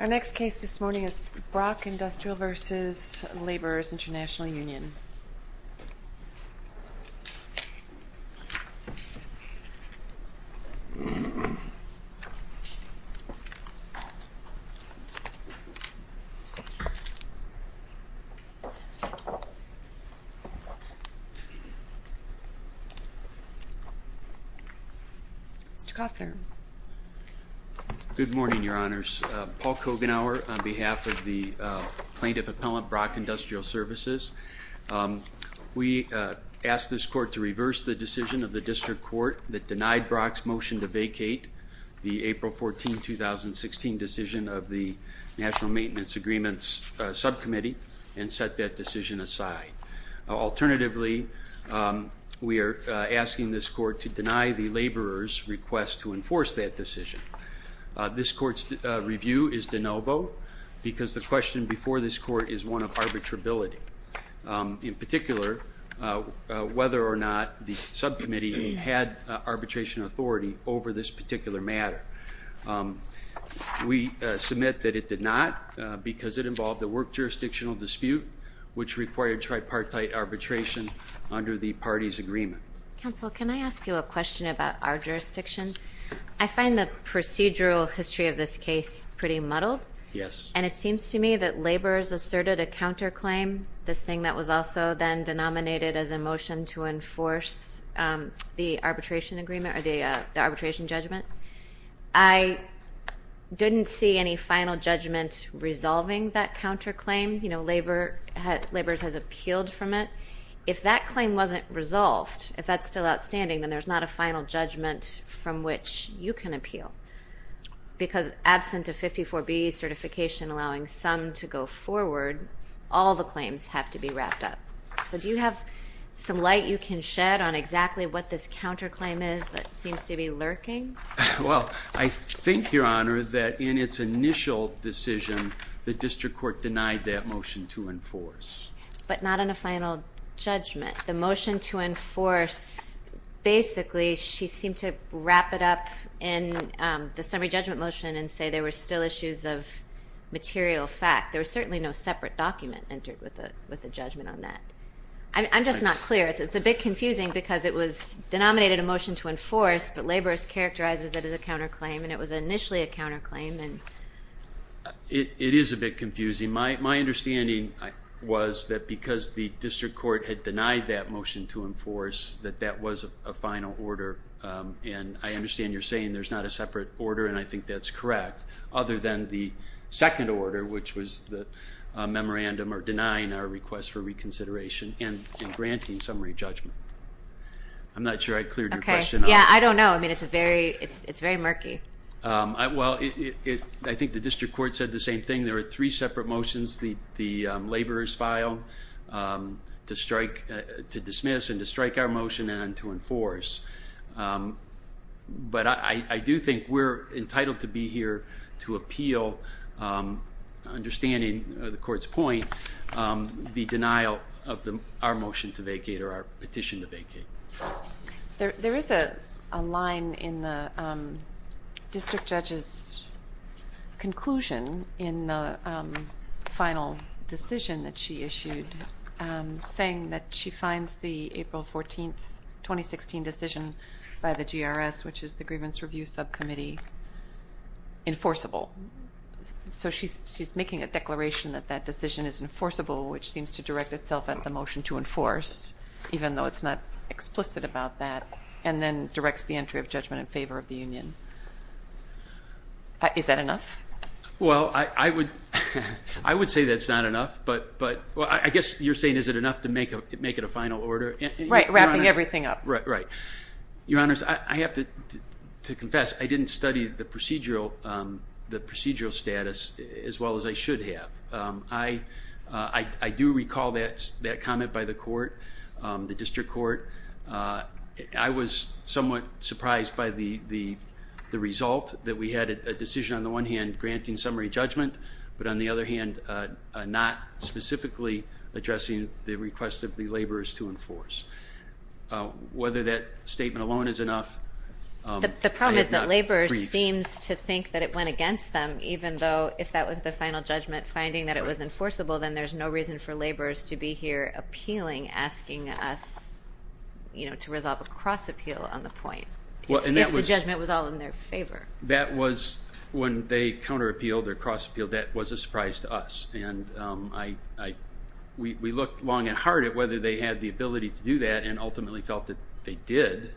Our next case this morning is Brock Industrial v. Laborers' International Union. Mr. Koffner. Good morning, Your Honors. Paul Kogenauer on behalf of the plaintiff appellant Brock Industrial Services. We ask this court to reverse the decision of the district court that denied Brock's motion to vacate the April 14, 2016 decision of the National Maintenance Agreements Subcommittee and set that decision aside. Alternatively, we are asking this court to deny the laborers' request to enforce that decision. This court's review is de novo because the question before this court is one of arbitrability. In particular, whether or not the subcommittee had arbitration authority over this particular matter. We submit that it did not because it involved a work jurisdictional dispute, which required tripartite arbitration under the party's agreement. Counsel, can I ask you a question about our jurisdiction? I find the procedural history of this case pretty muddled. Yes. And it seems to me that laborers asserted a counterclaim, this thing that was also then denominated as a motion to enforce the arbitration agreement or the arbitration judgment. I didn't see any final judgment resolving that counterclaim. You know, laborers have appealed from it. If that claim wasn't resolved, if that's still outstanding, then there's not a final judgment from which you can appeal. Because absent a 54B certification allowing some to go forward, all the claims have to be wrapped up. So do you have some light you can shed on exactly what this counterclaim is that seems to be lurking? Well, I think, Your Honor, that in its initial decision, the district court denied that motion to enforce. But not in a final judgment. The motion to enforce, basically, she seemed to wrap it up in the summary judgment motion and say there were still issues of material fact. There was certainly no separate document entered with a judgment on that. I'm just not clear. It's a bit confusing because it was denominated a motion to enforce, but laborers characterized it as a counterclaim, and it was initially a counterclaim. It is a bit confusing. My understanding was that because the district court had denied that motion to enforce, that that was a final order. And I understand you're saying there's not a separate order, and I think that's correct, other than the second order, which was the memorandum or denying our request for reconsideration and granting summary judgment. I'm not sure I cleared your question. Okay. Yeah, I don't know. I mean, it's very murky. Well, I think the district court said the same thing. There were three separate motions the laborers filed to dismiss and to strike our motion and to enforce. But I do think we're entitled to be here to appeal, understanding the court's point, the denial of our motion to vacate or our petition to vacate. There is a line in the district judge's conclusion in the final decision that she issued saying that she finds the April 14th, 2016 decision by the GRS, which is the Grievance Review Subcommittee, enforceable. So she's making a declaration that that decision is enforceable, which seems to direct itself at the motion to enforce, even though it's not explicit about that, and then directs the entry of judgment in favor of the union. Is that enough? Well, I would say that's not enough, but I guess you're saying is it enough to make it a final order? Right, wrapping everything up. Right. Your Honors, I have to confess I didn't study the procedural status as well as I should have. I do recall that comment by the court, the district court. I was somewhat surprised by the result, that we had a decision on the one hand granting summary judgment, but on the other hand not specifically addressing the request of the laborers to enforce. Whether that statement alone is enough, I have not agreed. The problem is that laborers seem to think that it went against them, even though if that was the final judgment finding that it was enforceable, then there's no reason for laborers to be here appealing, asking us to resolve a cross-appeal on the point, if the judgment was all in their favor. When they counter-appealed or cross-appealed, that was a surprise to us, and we looked long and hard at whether they had the ability to do that and ultimately felt that they did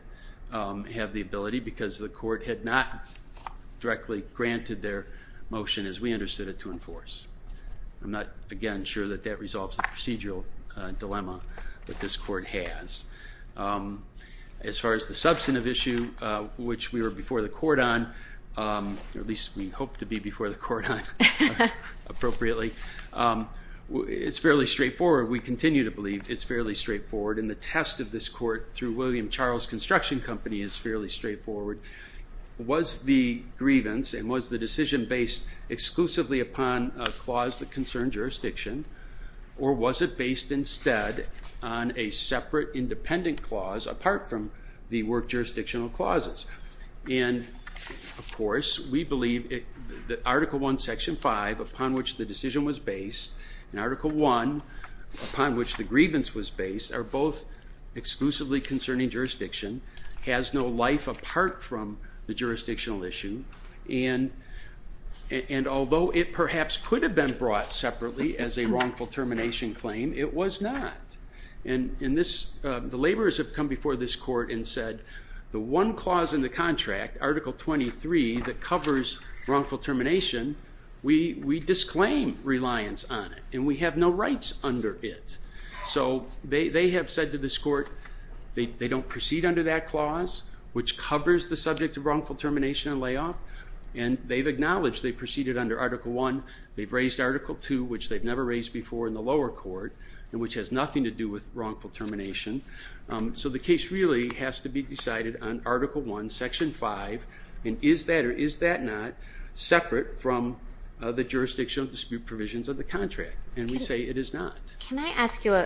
have the ability because the court had not directly granted their motion, as we understood it, to enforce. I'm not, again, sure that that resolves the procedural dilemma that this court has. As far as the substantive issue, which we were before the court on, or at least we hope to be before the court on appropriately, it's fairly straightforward. We continue to believe it's fairly straightforward, and the test of this court through William Charles Construction Company is fairly straightforward. Was the grievance and was the decision based exclusively upon a clause that concerned jurisdiction, or was it based instead on a separate independent clause apart from the work jurisdictional clauses? And, of course, we believe that Article I, Section 5, upon which the decision was based, and Article I, upon which the grievance was based, are both exclusively concerning jurisdiction, has no life apart from the jurisdictional issue, and although it perhaps could have been brought separately as a wrongful termination claim, it was not. And the laborers have come before this court and said, the one clause in the contract, Article 23, that covers wrongful termination, we disclaim reliance on it, and we have no rights under it. So they have said to this court they don't proceed under that clause, which covers the subject of wrongful termination and layoff, and they've acknowledged they proceeded under Article I. They've raised Article II, which they've never raised before in the lower court, and which has nothing to do with wrongful termination. So the case really has to be decided on Article I, Section 5, and is that or is that not separate from the jurisdictional dispute provisions of the contract? And we say it is not. Can I ask you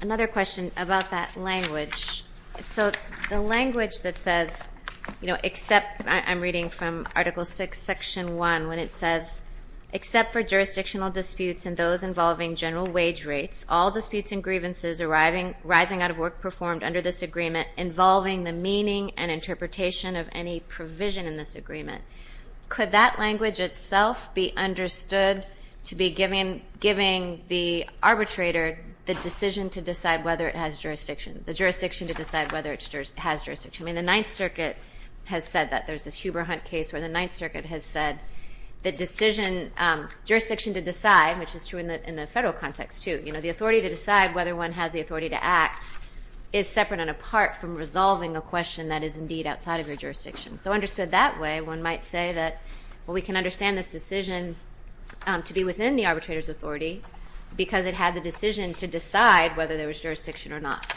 another question about that language? So the language that says, you know, except I'm reading from Article VI, Section 1, when it says except for jurisdictional disputes and those involving general wage rates, all disputes and grievances arising out of work performed under this agreement involving the meaning and interpretation of any provision in this agreement, could that language itself be understood to be giving the arbitrator the decision to decide whether it has jurisdiction, the jurisdiction to decide whether it has jurisdiction? I mean, the Ninth Circuit has said that. There's this Huber-Hunt case where the Ninth Circuit has said the jurisdiction to decide, which is true in the federal context too, you know, the authority to decide whether one has the authority to act is separate and apart from resolving a question that is indeed outside of your jurisdiction. So understood that way, one might say that, well, we can understand this decision to be within the arbitrator's authority because it had the decision to decide whether there was jurisdiction or not.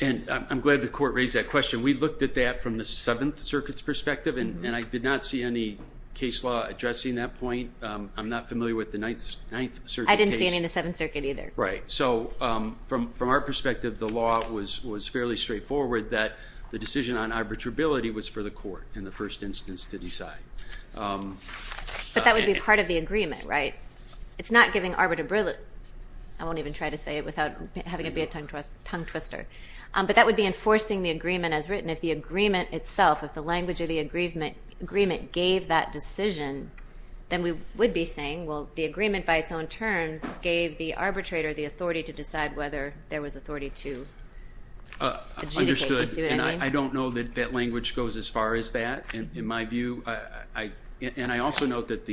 And I'm glad the Court raised that question. We looked at that from the Seventh Circuit's perspective, and I did not see any case law addressing that point. I'm not familiar with the Ninth Circuit case. I didn't see any in the Seventh Circuit either. Right. So from our perspective, the law was fairly straightforward, that the decision on arbitrability was for the Court in the first instance to decide. But that would be part of the agreement, right? It's not giving arbitrability. I won't even try to say it without having to be a tongue twister. But that would be enforcing the agreement as written. If the agreement itself, if the language of the agreement gave that decision, then we would be saying, well, the agreement by its own terms gave the arbitrator the authority to decide whether there was authority to adjudicate. I don't know that that language goes as far as that, in my view. And I also note that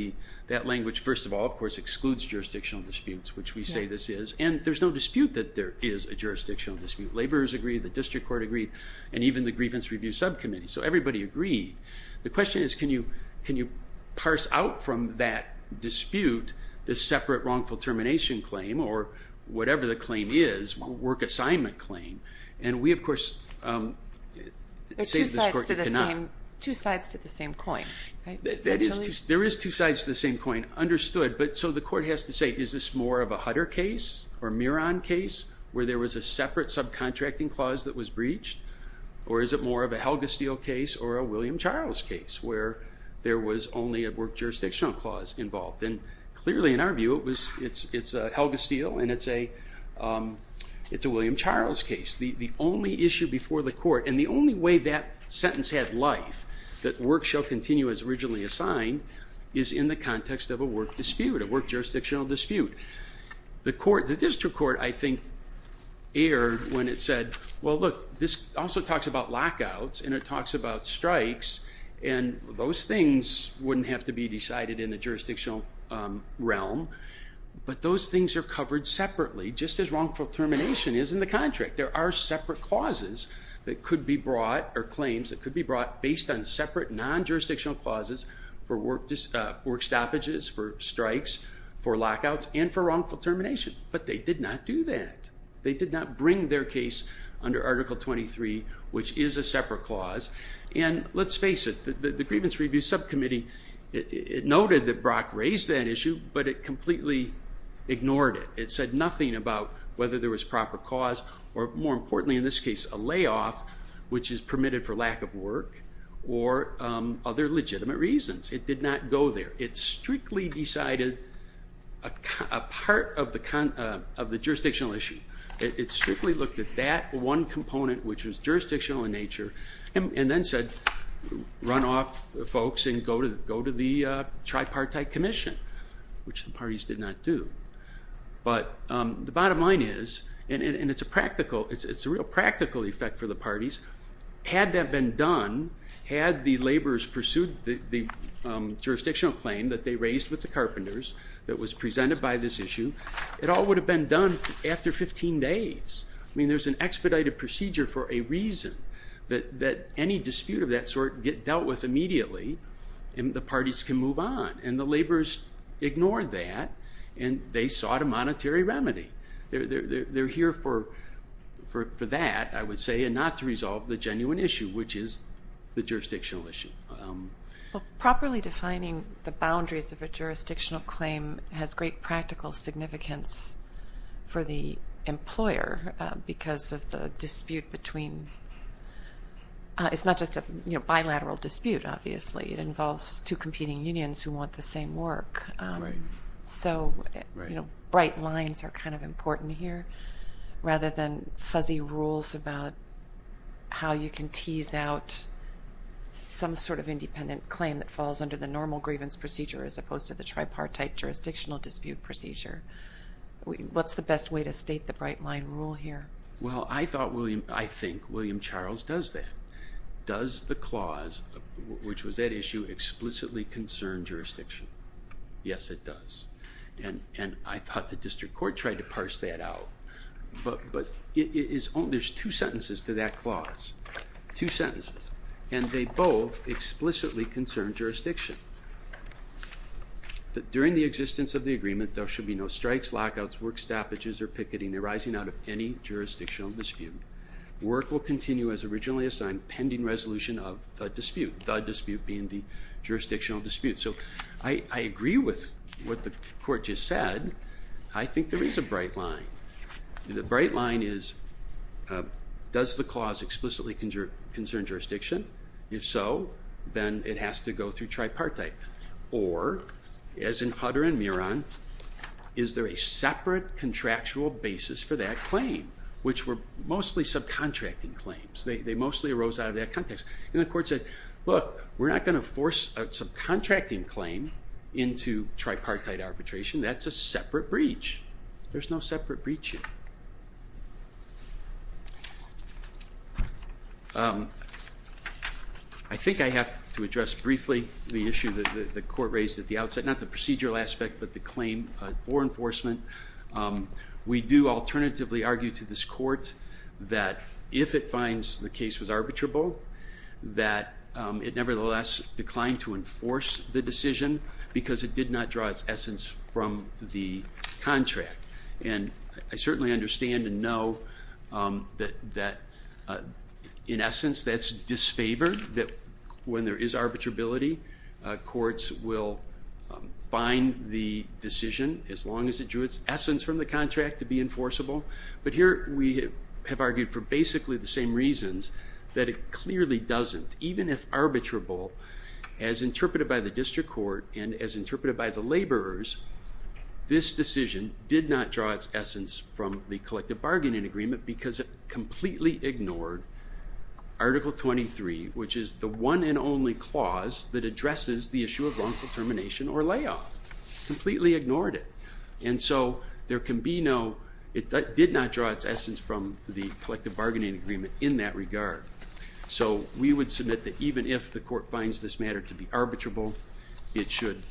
that language, first of all, of course, excludes jurisdictional disputes, which we say this is. And there's no dispute that there is a jurisdictional dispute. Laborers agreed, the District Court agreed, and even the Grievance Review Subcommittee. So everybody agreed. The question is, can you parse out from that dispute the separate wrongful termination claim or whatever the claim is, work assignment claim? And we, of course, say to this Court you cannot. There are two sides to the same coin, right? There is two sides to the same coin, understood. But so the Court has to say, is this more of a Hutter case or a Miron case where there was a separate subcontracting clause that was breached? Or is it more of a Helga Steele case or a William Charles case where there was only a work jurisdictional clause involved? And clearly, in our view, it's Helga Steele and it's a William Charles case. The only issue before the Court, and the only way that sentence had life, that work shall continue as originally assigned, is in the context of a work dispute, a work jurisdictional dispute. The District Court, I think, erred when it said, well, look, this also talks about lockouts and it talks about strikes. And those things wouldn't have to be decided in the jurisdictional realm. But those things are covered separately, just as wrongful termination is in the contract. There are separate clauses that could be brought, or claims that could be brought, based on separate non-jurisdictional clauses for work stoppages, for strikes, for lockouts, and for wrongful termination. But they did not do that. They did not bring their case under Article 23, which is a separate clause. And let's face it, the Grievance Review Subcommittee, it noted that Brock raised that issue, but it completely ignored it. It said nothing about whether there was proper cause, or more importantly in this case, a layoff, which is permitted for lack of work, or other legitimate reasons. It did not go there. It strictly decided a part of the jurisdictional issue. It strictly looked at that one component, which was jurisdictional in nature, and then said, run off, folks, and go to the tripartite commission, which the parties did not do. But the bottom line is, and it's a practical, it's a real practical effect for the parties, had that been done, had the laborers pursued the jurisdictional claim that they raised with the carpenters, that was presented by this issue, it all would have been done after 15 days. I mean, there's an expedited procedure for a reason, that any dispute of that sort get dealt with immediately, and the parties can move on. And the laborers ignored that, and they sought a monetary remedy. They're here for that, I would say, and not to resolve the genuine issue, which is the jurisdictional issue. Well, properly defining the boundaries of a jurisdictional claim has great practical significance for the employer, because of the dispute between, it's not just a bilateral dispute, obviously. It involves two competing unions who want the same work. Right. You know, bright lines are kind of important here, rather than fuzzy rules about how you can tease out some sort of independent claim that falls under the normal grievance procedure, as opposed to the tripartite jurisdictional dispute procedure. What's the best way to state the bright line rule here? Well, I thought William, I think William Charles does that. Does the clause, which was at issue, explicitly concern jurisdiction? Yes, it does. And I thought the district court tried to parse that out, but it is only, there's two sentences to that clause, two sentences, and they both explicitly concern jurisdiction. During the existence of the agreement, there should be no strikes, lockouts, work stoppages, or picketing arising out of any jurisdictional dispute. Work will continue as originally assigned, pending resolution of the dispute, the dispute being the jurisdictional dispute. So I agree with what the court just said. I think there is a bright line. The bright line is, does the clause explicitly concern jurisdiction? If so, then it has to go through tripartite. Or, as in Hutter and Muran, is there a separate contractual basis for that claim? Which were mostly subcontracting claims. They mostly arose out of that context. And the court said, look, we're not going to force a subcontracting claim into tripartite arbitration. That's a separate breach. There's no separate breaching. I think I have to address briefly the issue that the court raised at the outset. Not the procedural aspect, but the claim for enforcement. We do alternatively argue to this court that if it finds the case was arbitrable, that it nevertheless declined to enforce the decision because it did not draw its essence from the contract. And I certainly understand and know that, in essence, that's disfavor. When there is arbitrability, courts will find the decision, as long as it drew its essence from the contract, to be enforceable. But here we have argued for basically the same reasons, that it clearly doesn't. Even if arbitrable, as interpreted by the district court and as interpreted by the laborers, this decision did not draw its essence from the collective bargaining agreement because it completely ignored Article 23, which is the one and only clause that addresses the issue of wrongful termination or layoff. Completely ignored it. And so there can be no, it did not draw its essence from the collective bargaining agreement in that regard. So we would submit that even if the court finds this matter to be arbitrable, it should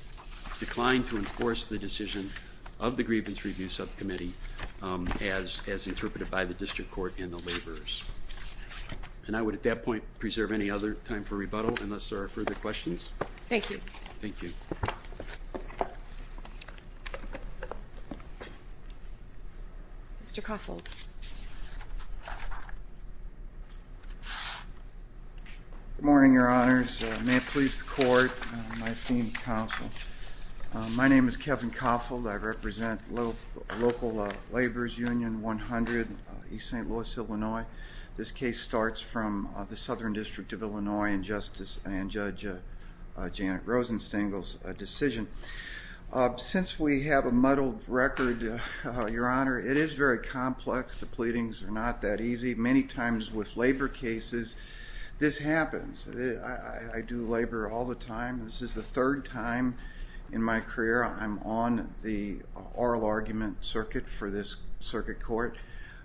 decline to enforce the decision of the grievance review subcommittee, as interpreted by the district court and the laborers. And I would, at that point, preserve any other time for rebuttal unless there are further questions. Thank you. Thank you. Mr. Coffold. Good morning, Your Honors. May it please the Court and my esteemed counsel. My name is Kevin Coffold. I represent local laborers union 100, East St. Louis, Illinois. This case starts from the Southern District of Illinois and Judge Janet Rosenstengel's decision. Since we have a muddled record, Your Honor, it is very complex. The pleadings are not that easy. Many times with labor cases, this happens. I do labor all the time. This is the third time in my career. I'm on the oral argument circuit for this circuit court,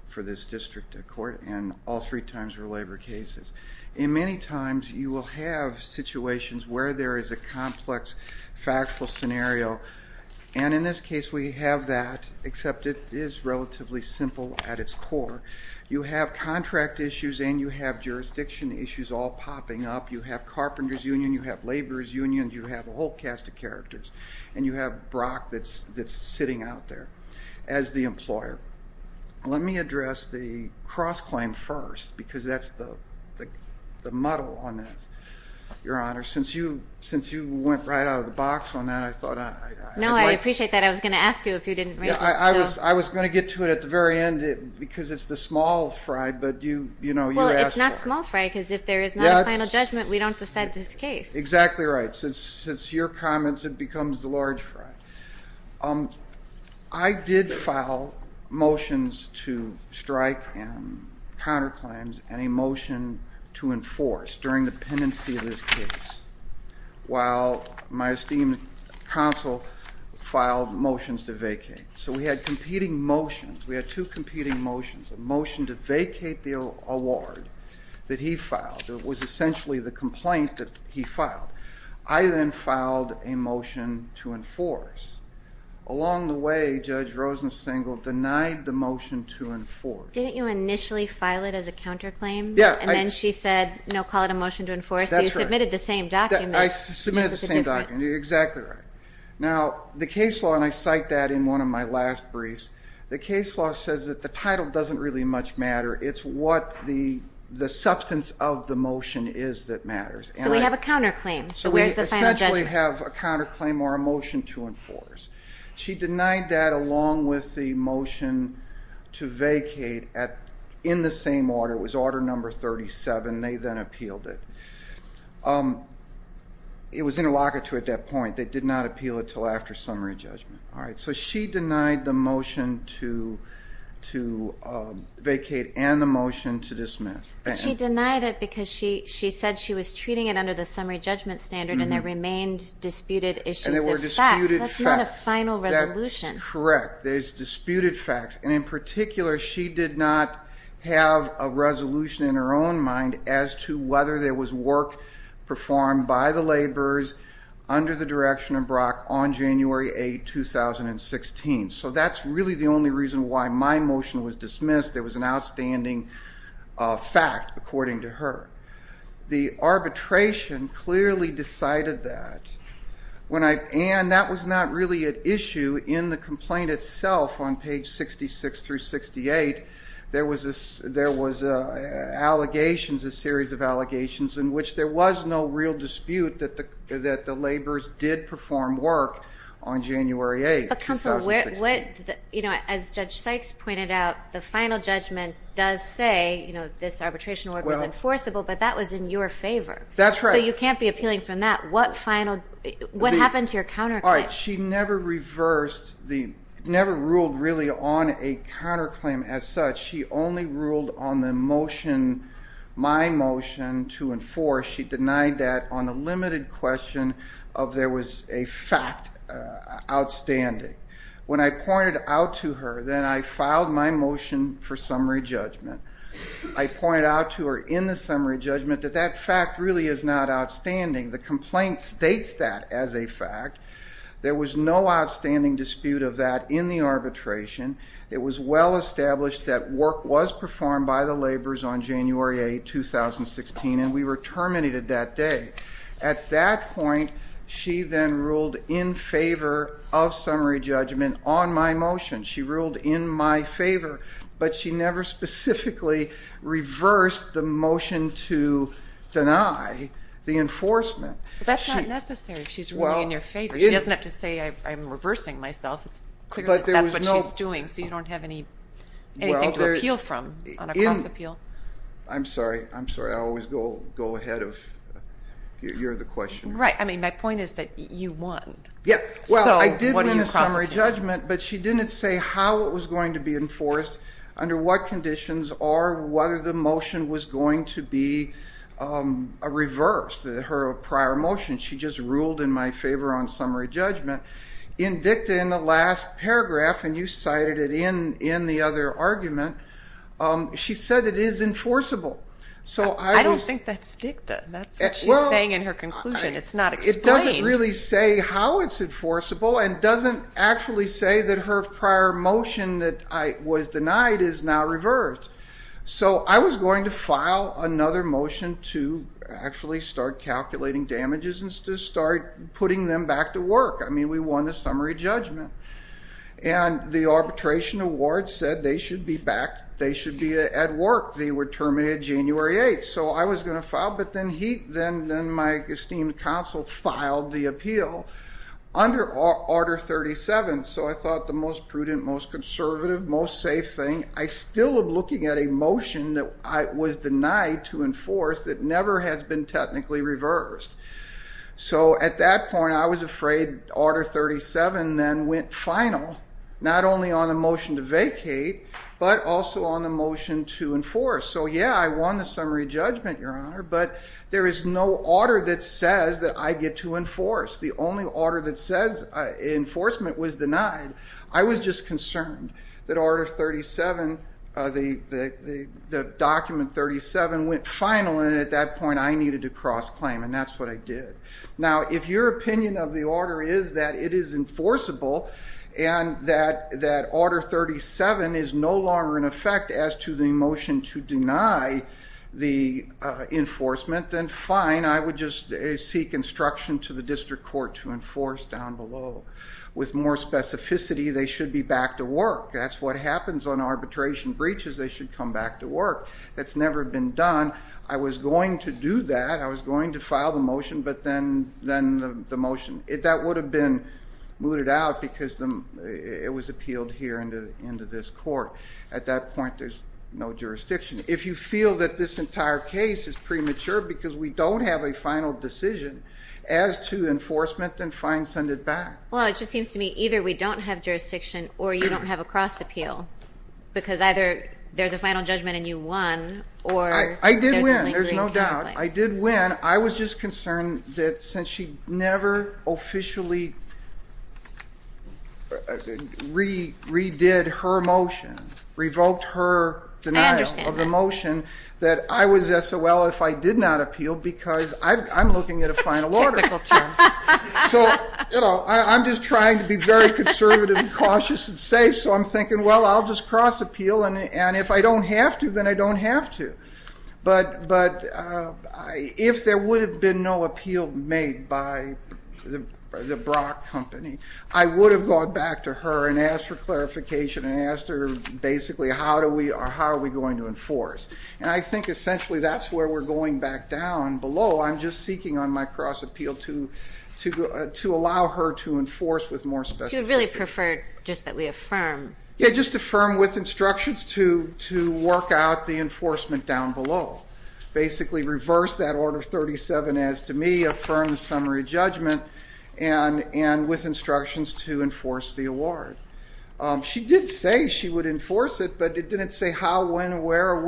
for this district court, and all three times were labor cases. Many times you will have situations where there is a complex factual scenario, and in this case we have that, except it is relatively simple at its core. You have contract issues and you have jurisdiction issues all popping up. You have carpenters union, you have laborers union, you have a whole cast of characters, and you have Brock that's sitting out there as the employer. Let me address the cross-claim first because that's the muddle on this, Your Honor. Since you went right out of the box on that, I thought I might. No, I appreciate that. I was going to ask you if you didn't raise it. I was going to get to it at the very end because it's the small fry, but you asked for it. Well, it's not small fry because if there is not a final judgment, we don't decide this case. Exactly right. Since your comments, it becomes the large fry. I did file motions to strike and counterclaims and a motion to enforce during the pendency of this case, while my esteemed counsel filed motions to vacate. So we had competing motions. We had two competing motions, a motion to vacate the award that he filed. It was essentially the complaint that he filed. I then filed a motion to enforce. Along the way, Judge Rosenstengel denied the motion to enforce. Didn't you initially file it as a counterclaim? Yeah. And then she said, no, call it a motion to enforce. That's right. So you submitted the same document. I submitted the same document. Exactly right. Now, the case law, and I cite that in one of my last briefs, the case law says that the title doesn't really much matter. It's what the substance of the motion is that matters. So we have a counterclaim. So where's the final judgment? So we essentially have a counterclaim or a motion to enforce. She denied that along with the motion to vacate in the same order. It was order number 37. They then appealed it. It was interlocutor at that point. They did not appeal it until after summary judgment. All right. So she denied the motion to vacate and the motion to dismiss. But she denied it because she said she was treating it under the summary judgment standard and there remained disputed issues of facts. And there were disputed facts. That's not a final resolution. Correct. There's disputed facts. And in particular, she did not have a resolution in her own mind as to whether there was work performed by the laborers under the direction of 2016. So that's really the only reason why my motion was dismissed. It was an outstanding fact, according to her. The arbitration clearly decided that. And that was not really an issue in the complaint itself on page 66 through 68. There was allegations, a series of allegations in which there was no real dispute that the laborers did perform work on January 8th, 2016. But, counsel, as Judge Sykes pointed out, the final judgment does say this arbitration work was enforceable, but that was in your favor. That's right. So you can't be appealing from that. What happened to your counterclaim? All right. She never reversed, never ruled really on a counterclaim as such. She only ruled on the motion, my motion, to enforce. She denied that on the limited question of there was a fact outstanding. When I pointed out to her, then I filed my motion for summary judgment. I pointed out to her in the summary judgment that that fact really is not outstanding. The complaint states that as a fact. There was no outstanding dispute of that in the arbitration. It was well established that work was performed by the laborers on January 8th, 2016, and we were terminated that day. At that point, she then ruled in favor of summary judgment on my motion. She ruled in my favor, but she never specifically reversed the motion to deny the enforcement. That's not necessary if she's ruling in your favor. She doesn't have to say I'm reversing myself. That's what she's doing, so you don't have anything to appeal from on a cross-appeal. I'm sorry. I'm sorry. I always go ahead if you're the questioner. Right. I mean, my point is that you won. Yeah. Well, I did win a summary judgment, but she didn't say how it was going to be enforced, under what conditions, or whether the motion was going to be reversed, her prior motion. She just ruled in my favor on summary judgment. In dicta, in the last paragraph, and you cited it in the other argument, she said it is enforceable. I don't think that's dicta. That's what she's saying in her conclusion. It's not explained. It doesn't really say how it's enforceable and doesn't actually say that her prior motion that was denied is now reversed. So I was going to file another motion to actually start calculating damages and to start putting them back to work. I mean, we won the summary judgment. And the arbitration award said they should be back. They should be at work. They were terminated January 8th. So I was going to file. But then my esteemed counsel filed the appeal under Order 37. So I thought the most prudent, most conservative, most safe thing, I still am looking at a motion that was denied to enforce that never has been technically reversed. So at that point, I was afraid Order 37 then went final, not only on the motion to vacate, but also on the motion to enforce. So, yeah, I won the summary judgment, Your Honor, but there is no order that says that I get to enforce. The only order that says enforcement was denied. I was just concerned that Order 37, the document 37, went final. And at that point, I needed to cross-claim. And that's what I did. Now, if your opinion of the order is that it is enforceable and that Order 37 is no longer in effect as to the motion to deny the enforcement, then fine, I would just seek instruction to the district court to enforce down below. With more specificity, they should be back to work. That's what happens on arbitration breaches. They should come back to work. That's never been done. I was going to do that. I was going to file the motion, but then the motion, that would have been mooted out because it was appealed here into this court. At that point, there's no jurisdiction. If you feel that this entire case is premature because we don't have a final decision as to enforcement, then fine, send it back. Well, it just seems to me either we don't have jurisdiction or you don't have a cross-appeal because either there's a final judgment and you won or there's a lingering conflict. I did win. There's no doubt. I did win. I was just concerned that since she never officially redid her motion, revoked her denial of the motion, that I was SOL if I did not appeal because I'm looking at a final order. Typical term. I'm just trying to be very conservative and cautious and safe, so I'm thinking, well, I'll just cross-appeal, and if I don't have to, then I don't have to. But if there would have been no appeal made by the Brock company, I would have gone back to her and asked for clarification and asked her basically how are we going to enforce. And I think essentially that's where we're going back down below. I'm just seeking on my cross-appeal to allow her to enforce with more specificity. So you'd really prefer just that we affirm. Yeah, just affirm with instructions to work out the enforcement down below. Basically reverse that Order 37 as to me, affirm the summary judgment, and with instructions to enforce the award. She did say she would enforce it, but it didn't say how, when, where,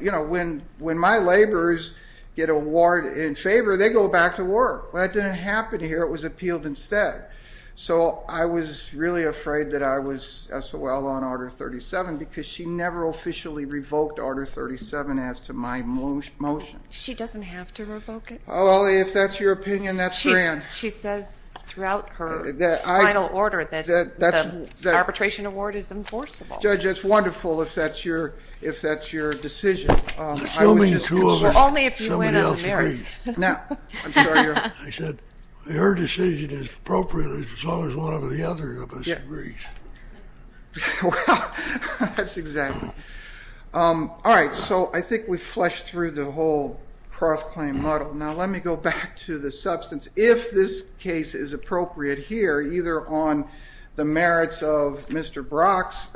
you know, when my laborers get an award in favor, they go back to work. That didn't happen here. It was appealed instead. So I was really afraid that I was SOL on Order 37 because she never officially revoked Order 37 as to my motion. She doesn't have to revoke it. Well, if that's your opinion, that's grand. She says throughout her final order that the arbitration award is enforceable. Judge, it's wonderful if that's your decision. Assuming the two of us, somebody else agrees. I'm sorry, Your Honor. I said her decision is appropriate as long as one or the other of us agrees. Well, that's exactly. All right, so I think we've fleshed through the whole cross-claim model. Now let me go back to the substance. If this case is appropriate here, either on the merits of Mr. Brock's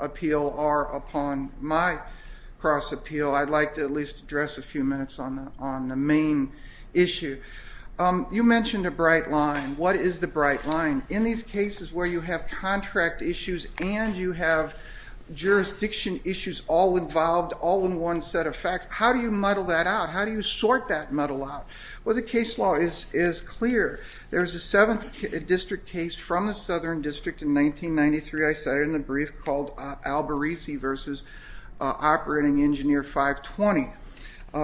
appeal or upon my cross-appeal, I'd like to at least address a few minutes on the main issue. You mentioned a bright line. What is the bright line? In these cases where you have contract issues and you have jurisdiction issues all involved, all in one set of facts, how do you muddle that out? How do you sort that muddle out? Well, the case law is clear. There's a 7th District case from the Southern District in 1993. I cite it in the brief called Albarese v. Operating Engineer 520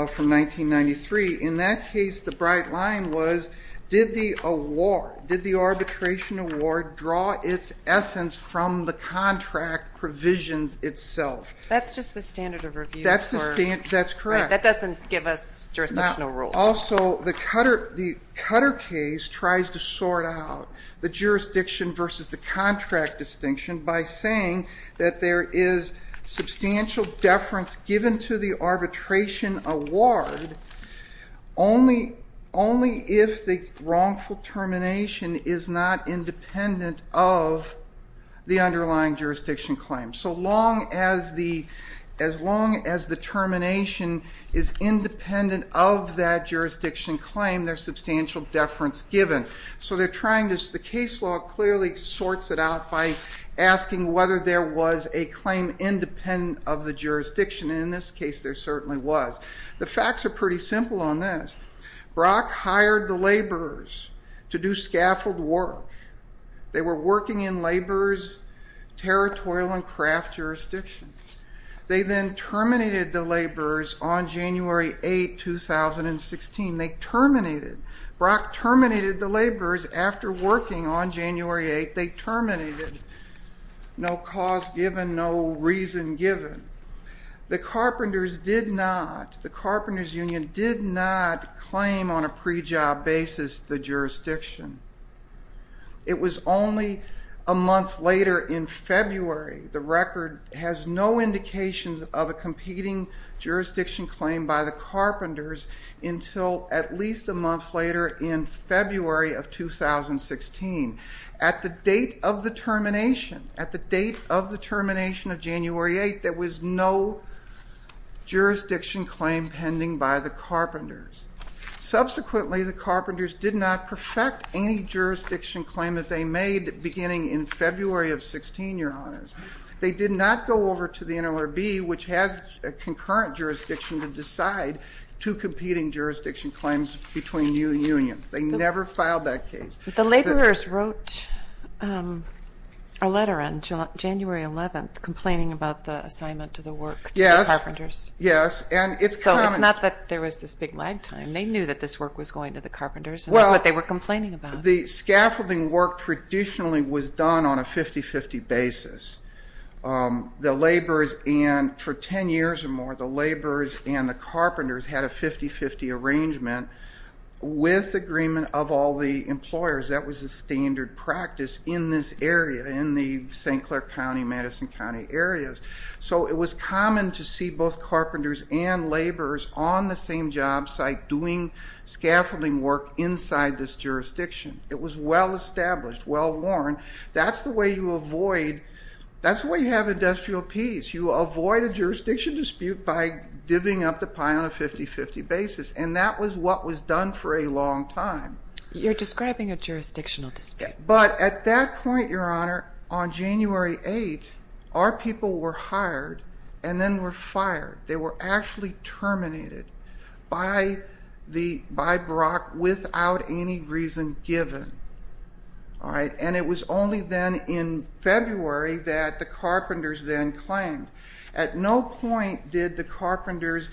from 1993. In that case, the bright line was did the arbitration award draw its essence from the contract provisions itself? That's just the standard of review. That's correct. That doesn't give us jurisdictional rules. Also, the Cutter case tries to sort out the jurisdiction versus the contract distinction by saying that there is substantial deference given to the arbitration award only if the wrongful termination is not independent of the underlying jurisdiction claim. So as long as the termination is independent of that jurisdiction claim, there's substantial deference given. The case law clearly sorts it out by asking whether there was a claim independent of the jurisdiction. In this case, there certainly was. The facts are pretty simple on this. Brock hired the laborers to do scaffold work. They were working in laborers' territorial and craft jurisdictions. They then terminated the laborers on January 8, 2016. They terminated. Brock terminated the laborers after working on January 8. They terminated. No cause given, no reason given. The carpenters union did not claim on a pre-job basis the jurisdiction. It was only a month later in February. The record has no indications of a competing jurisdiction claim by the carpenters until at least a month later in February of 2016. At the date of the termination, at the date of the termination of January 8, there was no jurisdiction claim pending by the carpenters. Subsequently, the carpenters did not perfect any jurisdiction claim that they made beginning in February of 16, Your Honors. They did not go over to the NLRB, which has a concurrent jurisdiction, to decide two competing jurisdiction claims between unions. They never filed that case. The laborers wrote a letter on January 11th complaining about the assignment to the work to the carpenters. Yes. So it's not that there was this big lag time. They knew that this work was going to the carpenters, and that's what they were complaining about. The scaffolding work traditionally was done on a 50-50 basis. The laborers and, for 10 years or more, the laborers and the carpenters had a 50-50 arrangement with agreement of all the employers. That was the standard practice in this area, in the St. Clair County, Madison County areas. So it was common to see both carpenters and laborers on the same job site doing scaffolding work inside this jurisdiction. It was well-established, well-worn. That's the way you have industrial peace. You avoid a jurisdiction dispute by divvying up the pie on a 50-50 basis, and that was what was done for a long time. You're describing a jurisdictional dispute. But at that point, Your Honor, on January 8th, our people were hired and then were fired. They were actually terminated by Brock without any reason given. And it was only then in February that the carpenters then claimed. At no point did the carpenters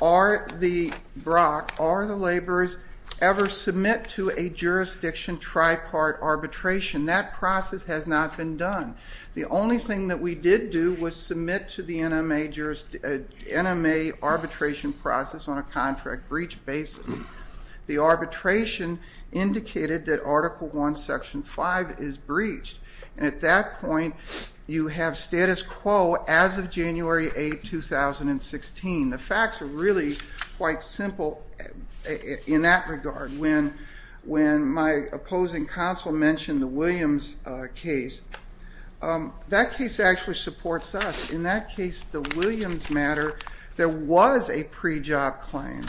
or the Brock or the laborers ever submit to a jurisdiction tripart arbitration. That process has not been done. The only thing that we did do was submit to the NMA arbitration process on a contract breach basis. The arbitration indicated that Article 1, Section 5 is breached. And at that point, you have status quo as of January 8, 2016. The facts are really quite simple in that regard. When my opposing counsel mentioned the Williams case, that case actually supports us. In that case, the Williams matter, there was a pre-job claim.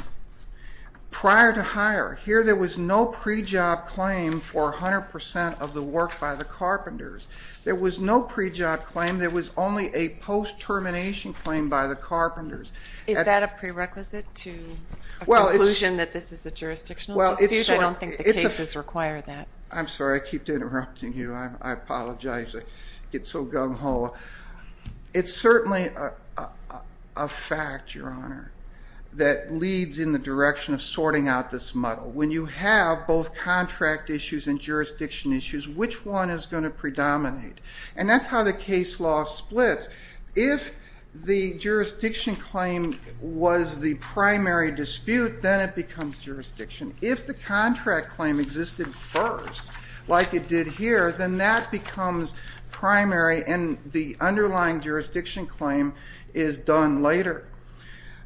Prior to hire, here there was no pre-job claim for 100% of the work by the carpenters. There was no pre-job claim. There was only a post-termination claim by the carpenters. Is that a prerequisite to a conclusion that this is a jurisdictional dispute? I don't think the cases require that. I'm sorry. I keep interrupting you. I apologize. I get so gung-ho. It's certainly a fact, Your Honor, that leads in the direction of sorting out this muddle. When you have both contract issues and jurisdiction issues, which one is going to predominate? And that's how the case law splits. If the jurisdiction claim was the primary dispute, then it becomes jurisdiction. If the contract claim existed first, like it did here, then that becomes primary, and the underlying jurisdiction claim is done later.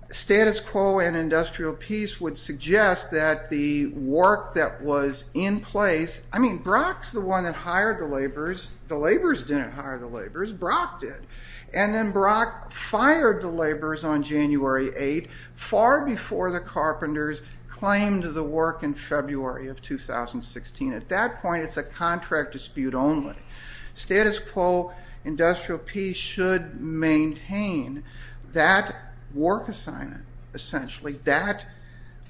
Status quo in industrial peace would suggest that the work that was in place, I mean, Brock's the one that hired the laborers. The laborers didn't hire the laborers. Brock did. And then Brock fired the laborers on January 8th, far before the carpenters claimed the work in February of 2016. At that point, it's a contract dispute only. Status quo industrial peace should maintain that work assignment, essentially. That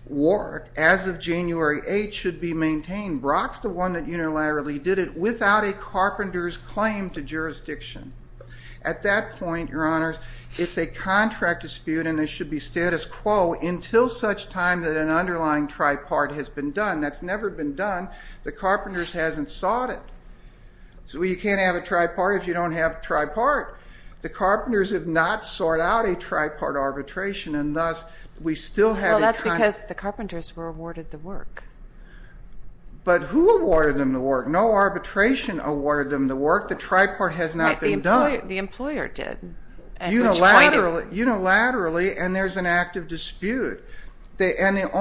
work, as of January 8th, should be maintained. Brock's the one that unilaterally did it without a carpenters claim to jurisdiction. At that point, Your Honors, it's a contract dispute, and there should be status quo until such time that an underlying tripart has been done. That's never been done. The carpenters hasn't sought it. So you can't have a tripart if you don't have a tripart. The carpenters have not sought out a tripart arbitration, and thus we still have a tripart. Well, that's because the carpenters were awarded the work. But who awarded them the work? No arbitration awarded them the work. The tripart has not been done. The employer did. Unilaterally, and there's an active dispute. Right,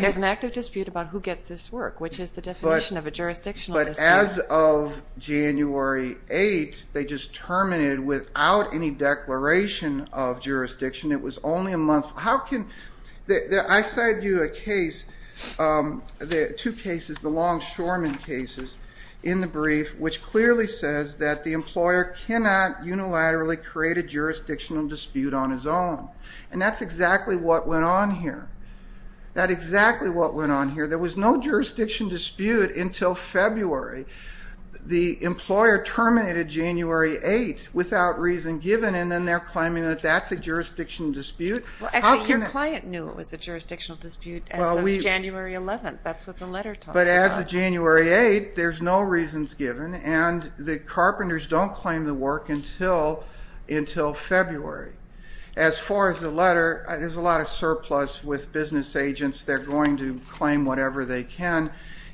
there's an active dispute about who gets this work, which is the definition of a jurisdictional dispute. But as of January 8th, they just terminated without any declaration of jurisdiction. It was only a month. I cited you a case, two cases, the Longshoreman cases in the brief, which clearly says that the employer cannot unilaterally create a jurisdictional dispute on his own. And that's exactly what went on here. That's exactly what went on here. There was no jurisdiction dispute until February. The employer terminated January 8th without reason given, and then they're claiming that that's a jurisdictional dispute. Actually, your client knew it was a jurisdictional dispute as of January 11th. That's what the letter talks about. But as of January 8th, there's no reasons given, and the carpenters don't claim the work until February. As far as the letter, there's a lot of surplus with business agents. They're going to claim whatever they can.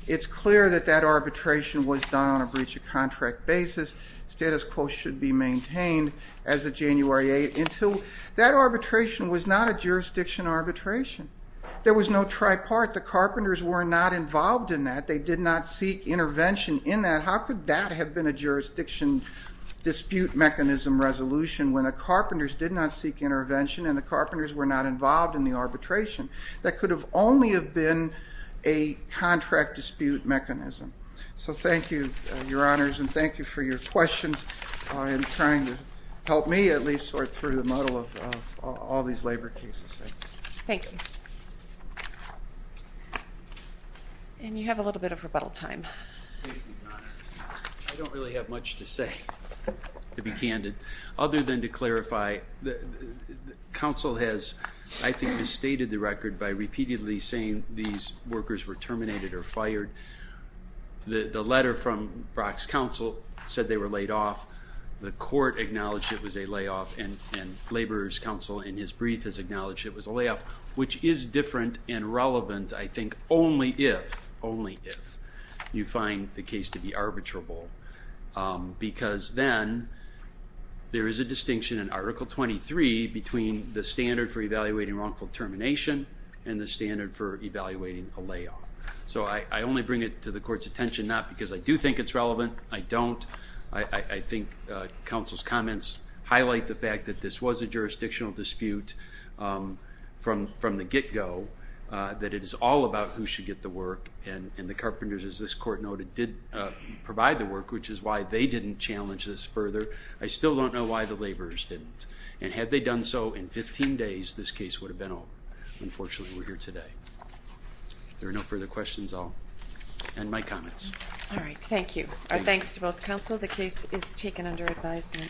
It's clear that that arbitration was done on a breach of contract basis. Status quo should be maintained as of January 8th, until that arbitration was not a jurisdiction arbitration. There was no tripartite. The carpenters were not involved in that. They did not seek intervention in that. How could that have been a jurisdiction dispute mechanism resolution when the carpenters did not seek intervention and the carpenters were not involved in the arbitration? That could have only have been a contract dispute mechanism. So thank you, Your Honors, and thank you for your questions and trying to help me at least sort through the muddle of all these labor cases. Thank you. And you have a little bit of rebuttal time. I don't really have much to say, to be candid, other than to clarify counsel has, I think, misstated the record by repeatedly saying these workers were terminated or fired. The letter from Brock's counsel said they were laid off. The court acknowledged it was a layoff, and Labor's counsel in his brief has acknowledged it was a layoff, which is different and relevant, I think, only if, only if, you find the case to be arbitrable. Because then there is a distinction in Article 23 between the standard for evaluating wrongful termination and the standard for evaluating a layoff. So I only bring it to the court's attention not because I do think it's relevant, I don't. I think counsel's comments highlight the fact that this was a jurisdictional dispute from the get-go, that it is all about who should get the work, and the Carpenters, as this court noted, did provide the work, which is why they didn't challenge this further. I still don't know why the Laborers didn't. And had they done so in 15 days, this case would have been over. Unfortunately, we're here today. If there are no further questions, I'll end my comments. All right, thank you. Our thanks to both counsel. The case is taken under advisement.